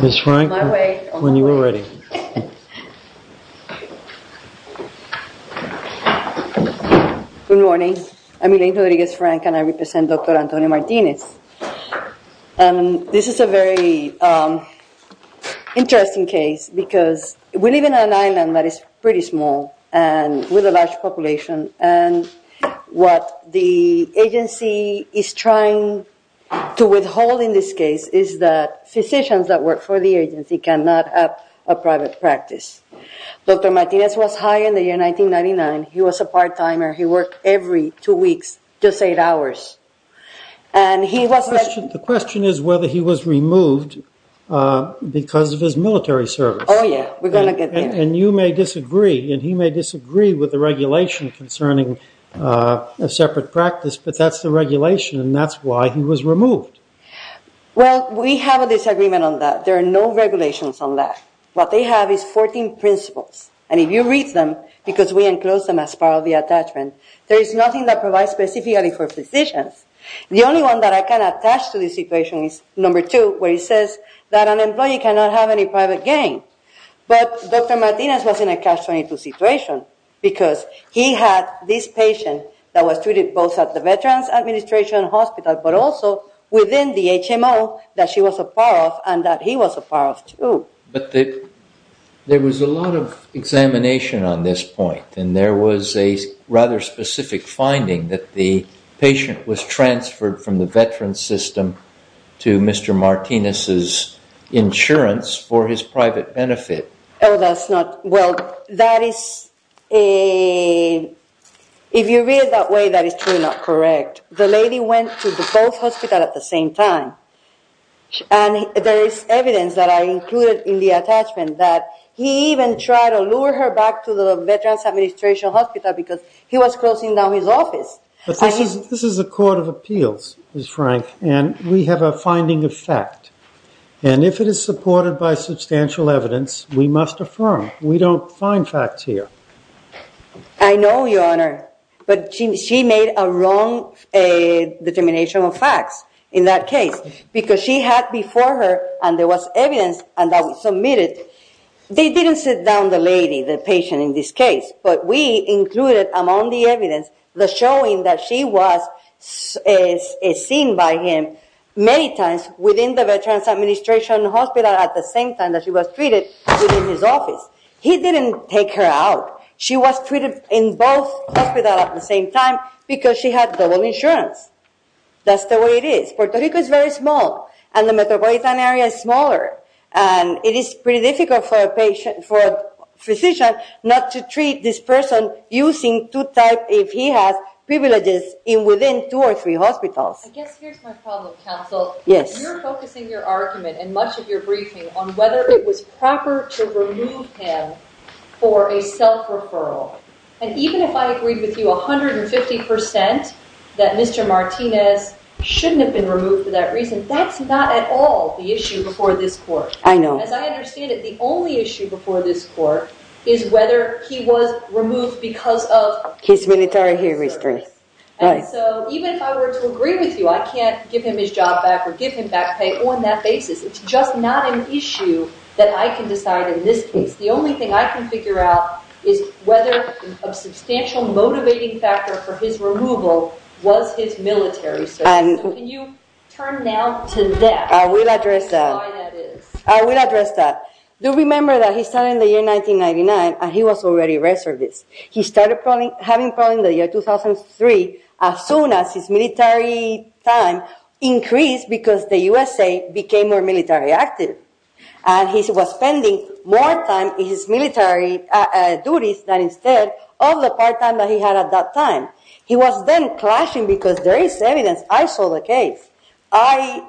Ms. Frank, when you are ready. Good morning. I'm Elaine Rodriguez-Frank and I represent Dr. Antonio Martinez. This is a very interesting case because we live in an island that is pretty small and with a large population. And what the agency is trying to withhold in this case is that physicians that work for the agency cannot have a private practice. Dr. Martinez was hired in 1999. He was a part-timer. He worked every two weeks, just eight hours. The question is whether he was removed because of his military service. Oh, yeah. We're going to get there. And you may disagree and he may disagree with the regulation concerning a separate practice, but that's the regulation and that's why he was removed. Well, we have a disagreement on that. There are no regulations on that. What they have is 14 principles. And if you read them, because we enclose them as part of the attachment, there is nothing that provides specifically for physicians. The only one that I can attach to this equation is number two, where it says that an employee cannot have any private gain. But Dr. Martinez was in a catch-22 situation because he had this patient that was treated both at the Veterans Administration Hospital but also within the HMO that she was a part of and that he was a part of, too. But there was a lot of examination on this point. And there was a rather specific finding that the patient was transferred from the veteran system to Mr. Martinez's insurance for his private benefit. Oh, that's not – well, that is a – if you read it that way, that is truly not correct. The lady went to both hospitals at the same time. And there is evidence that I included in the attachment that he even tried to lure her back to the Veterans Administration Hospital because he was closing down his office. But this is a court of appeals, Ms. Frank, and we have a finding of fact. And if it is supported by substantial evidence, we must affirm we don't find facts here. I know, Your Honor, but she made a wrong determination of facts in that case because she had before her, and there was evidence that was submitted, they didn't sit down the lady, the patient in this case, but we included among the evidence the showing that she was seen by him many times within the Veterans Administration Hospital at the same time that she was treated within his office. He didn't take her out. She was treated in both hospitals at the same time because she had double insurance. That's the way it is. Puerto Rico is very small, and the metropolitan area is smaller, and it is pretty difficult for a physician not to treat this person using two types if he has privileges within two or three hospitals. I guess here's my problem, counsel. Yes. You're focusing your argument and much of your briefing on whether it was proper to remove him for a self-referral. And even if I agreed with you 150% that Mr. Martinez shouldn't have been removed for that reason, that's not at all the issue before this court. I know. As I understand it, the only issue before this court is whether he was removed because of his military history. Even if I were to agree with you, I can't give him his job back or give him back pay on that basis. It's just not an issue that I can decide in this case. The only thing I can figure out is whether a substantial motivating factor for his removal was his military service. Can you turn now to that? I will address that. I will address that. Do remember that he started in the year 1999, and he was already reserved. He started having problems in the year 2003 as soon as his military time increased because the USA became more military active. And he was spending more time in his military duties than instead of the part-time that he had at that time. He was then clashing because there is evidence. I saw the case. I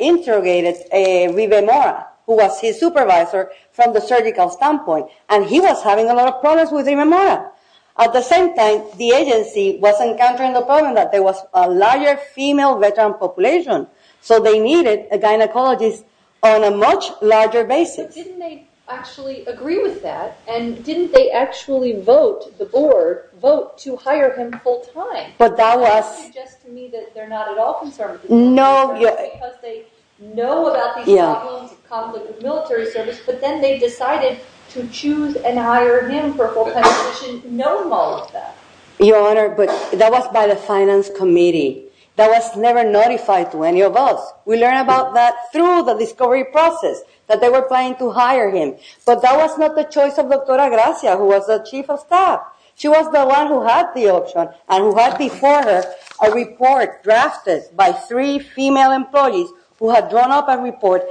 interrogated Rive Mora, who was his supervisor from the surgical standpoint, and he was having a lot of problems with Rive Mora. At the same time, the agency was encountering the problem that there was a larger female veteran population, so they needed a gynecologist on a much larger basis. But didn't they actually agree with that? And didn't they actually vote, the board, vote to hire him full-time? You're suggesting to me that they're not at all concerned. No. Because they know about these problems, conflict with military service, but then they decided to choose and hire him for full-time position, knowing all of that. Your Honor, that was by the finance committee. That was never notified to any of us. We learned about that through the discovery process, that they were planning to hire him. But that was not the choice of Dr. Agracia, who was the chief of staff. She was the one who had the option and who had before her a report drafted by three female employees who had drawn up a report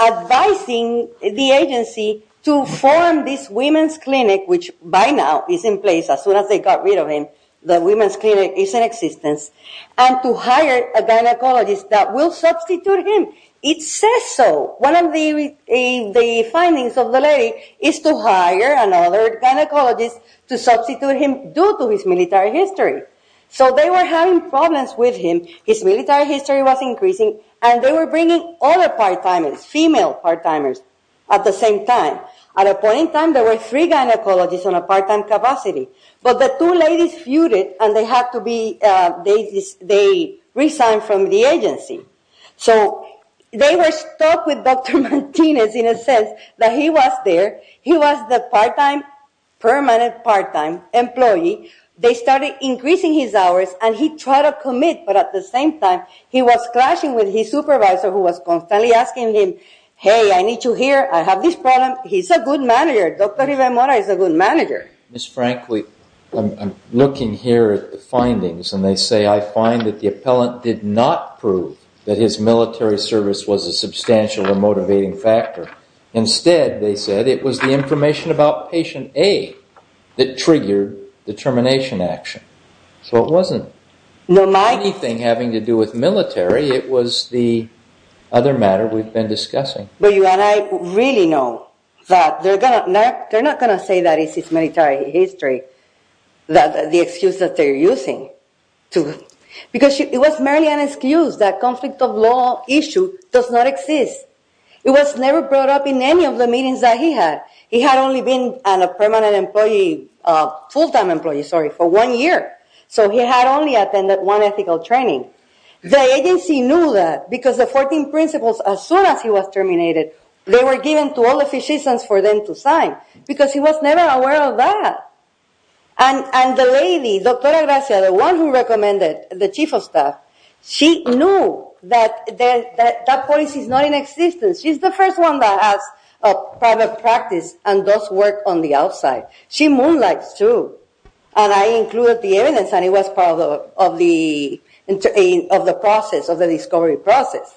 advising the agency to form this women's clinic, which by now is in place as soon as they got rid of him, the women's clinic is in existence, and to hire a gynecologist that will substitute him. It says so. One of the findings of the lady is to hire another gynecologist to substitute him, due to his military history. So they were having problems with him. His military history was increasing, and they were bringing other part-timers, female part-timers, at the same time. At a point in time, there were three gynecologists on a part-time capacity. But the two ladies feuded, and they resigned from the agency. So they were stuck with Dr. Martinez in a sense that he was there. He was the permanent part-time employee. They started increasing his hours, and he tried to commit, but at the same time he was clashing with his supervisor who was constantly asking him, hey, I need you here. I have this problem. He's a good manager. Dr. Rivera-Mora is a good manager. Ms. Franklin, I'm looking here at the findings, and they say, I find that the appellant did not prove that his military service was a substantial and motivating factor. Instead, they said, it was the information about patient A that triggered the termination action. So it wasn't anything having to do with military. It was the other matter we've been discussing. But you and I really know that they're not going to say that it's his military history, the excuse that they're using. Because it was merely an excuse that conflict of law issue does not exist. It was never brought up in any of the meetings that he had. He had only been a permanent employee, full-time employee, sorry, for one year. So he had only attended one ethical training. The agency knew that because the 14 principles, as soon as he was terminated, they were given to all the physicians for them to sign because he was never aware of that. And the lady, Dr. Gracia, the one who recommended the chief of staff, she knew that that policy is not in existence. She's the first one that has a private practice and does work on the outside. She moonlights, too. And I included the evidence, and it was part of the process, of the discovery process.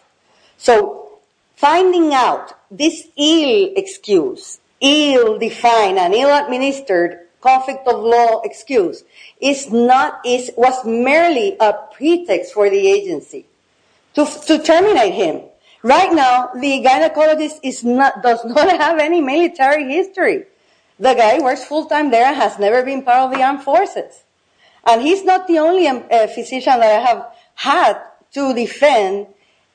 So finding out this ill-excused, ill-defined, and ill-administered conflict of law excuse was merely a pretext for the agency to terminate him. Right now, the gynecologist does not have any military history. The guy works full-time there and has never been part of the armed forces. And he's not the only physician that I have had to defend,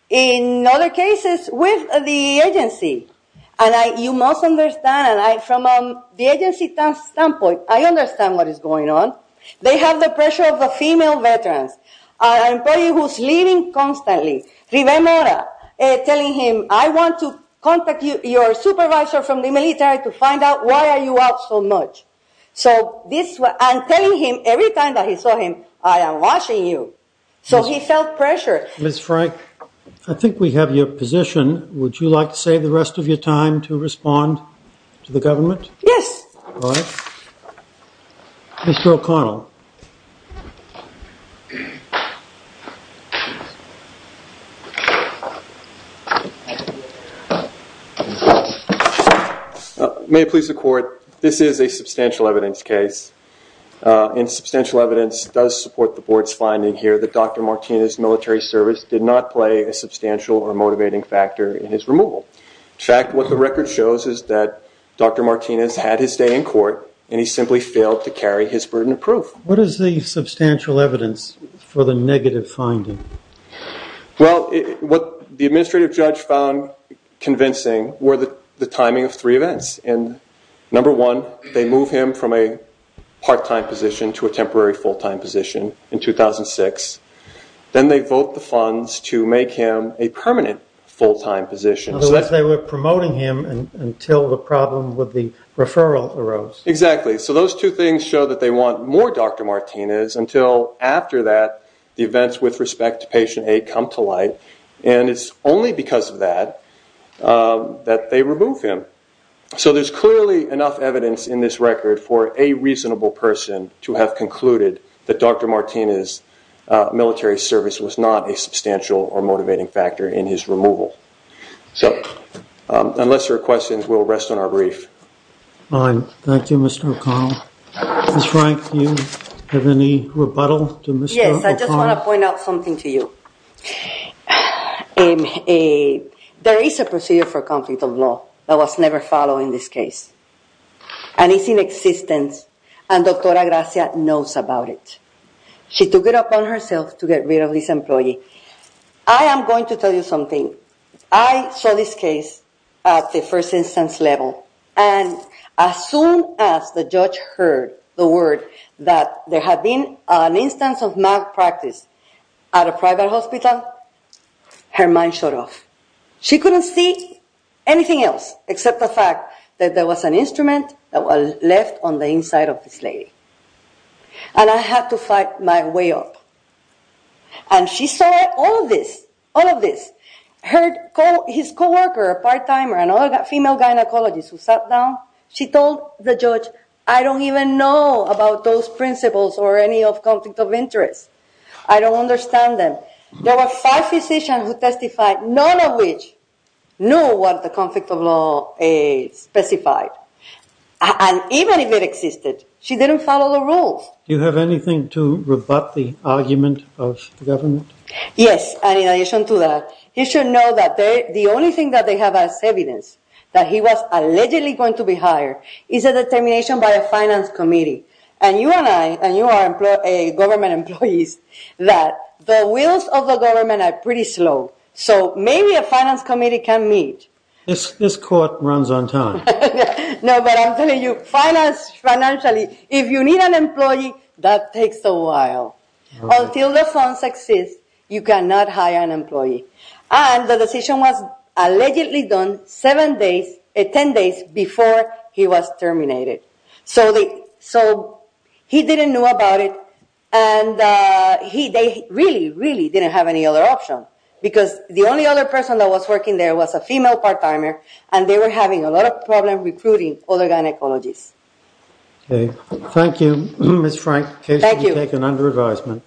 in other cases, with the agency. And you must understand, from the agency standpoint, I understand what is going on. They have the pressure of the female veterans. An employee who's leaving constantly, River Mora, telling him, I want to contact your supervisor from the military to find out why are you out so much. And telling him every time that he saw him, I am watching you. So he felt pressure. Ms. Frank, I think we have your position. Would you like to save the rest of your time to respond to the government? All right. Mr. O'Connell. May it please the court, this is a substantial evidence case. And substantial evidence does support the board's finding here that Dr. Martinez's military service did not play a substantial or motivating factor in his removal. In fact, what the record shows is that Dr. Martinez had his stay in court, and he simply failed to carry his burden of proof. What is the substantial evidence for the negative finding? Well, what the administrative judge found convincing were the timing of three events. And number one, they move him from a part-time position to a temporary full-time position in 2006. Then they vote the funds to make him a permanent full-time position. In other words, they were promoting him until the problem with the referral arose. Exactly. So those two things show that they want more Dr. Martinez until, after that, the events with respect to patient aid come to light. And it's only because of that that they remove him. So there's clearly enough evidence in this record for a reasonable person to have concluded that Dr. Martinez's military service was not a substantial or motivating factor in his removal. So unless there are questions, we'll rest on our brief. Thank you, Mr. O'Connell. Ms. Frank, do you have any rebuttal to Mr. O'Connell? Yes, I just want to point out something to you. There is a procedure for conflict of law that was never followed in this case, and it's in existence, and Dr. Agracia knows about it. She took it upon herself to get rid of this employee. I am going to tell you something. I saw this case at the first instance level, and as soon as the judge heard the word that there had been an instance of malpractice at a private hospital, her mind shut off. She couldn't see anything else except the fact that there was an instrument that was left on the inside of this lady. And I had to fight my way up. And she saw all of this, all of this. Her co-worker, a part-timer, another female gynecologist who sat down, she told the judge, I don't even know about those principles or any of conflict of interest. I don't understand them. There were five physicians who testified, none of which knew what the conflict of law specified. And even if it existed, she didn't follow the rules. Do you have anything to rebut the argument of the government? Yes, and in addition to that, you should know that the only thing that they have as evidence that he was allegedly going to be hired is a determination by a finance committee. And you and I, and you are government employees, that the wills of the government are pretty slow. So maybe a finance committee can meet. This court runs on time. No, but I'm telling you, finance, financially, if you need an employee, that takes a while. Until the funds exist, you cannot hire an employee. And the decision was allegedly done seven days, ten days before he was terminated. So he didn't know about it, and they really, really didn't have any other option. Because the only other person that was working there was a female part-timer, and they were having a lot of problems recruiting other gynecologists. Okay. Thank you, Ms. Frank. Thank you. Case is taken under advisement.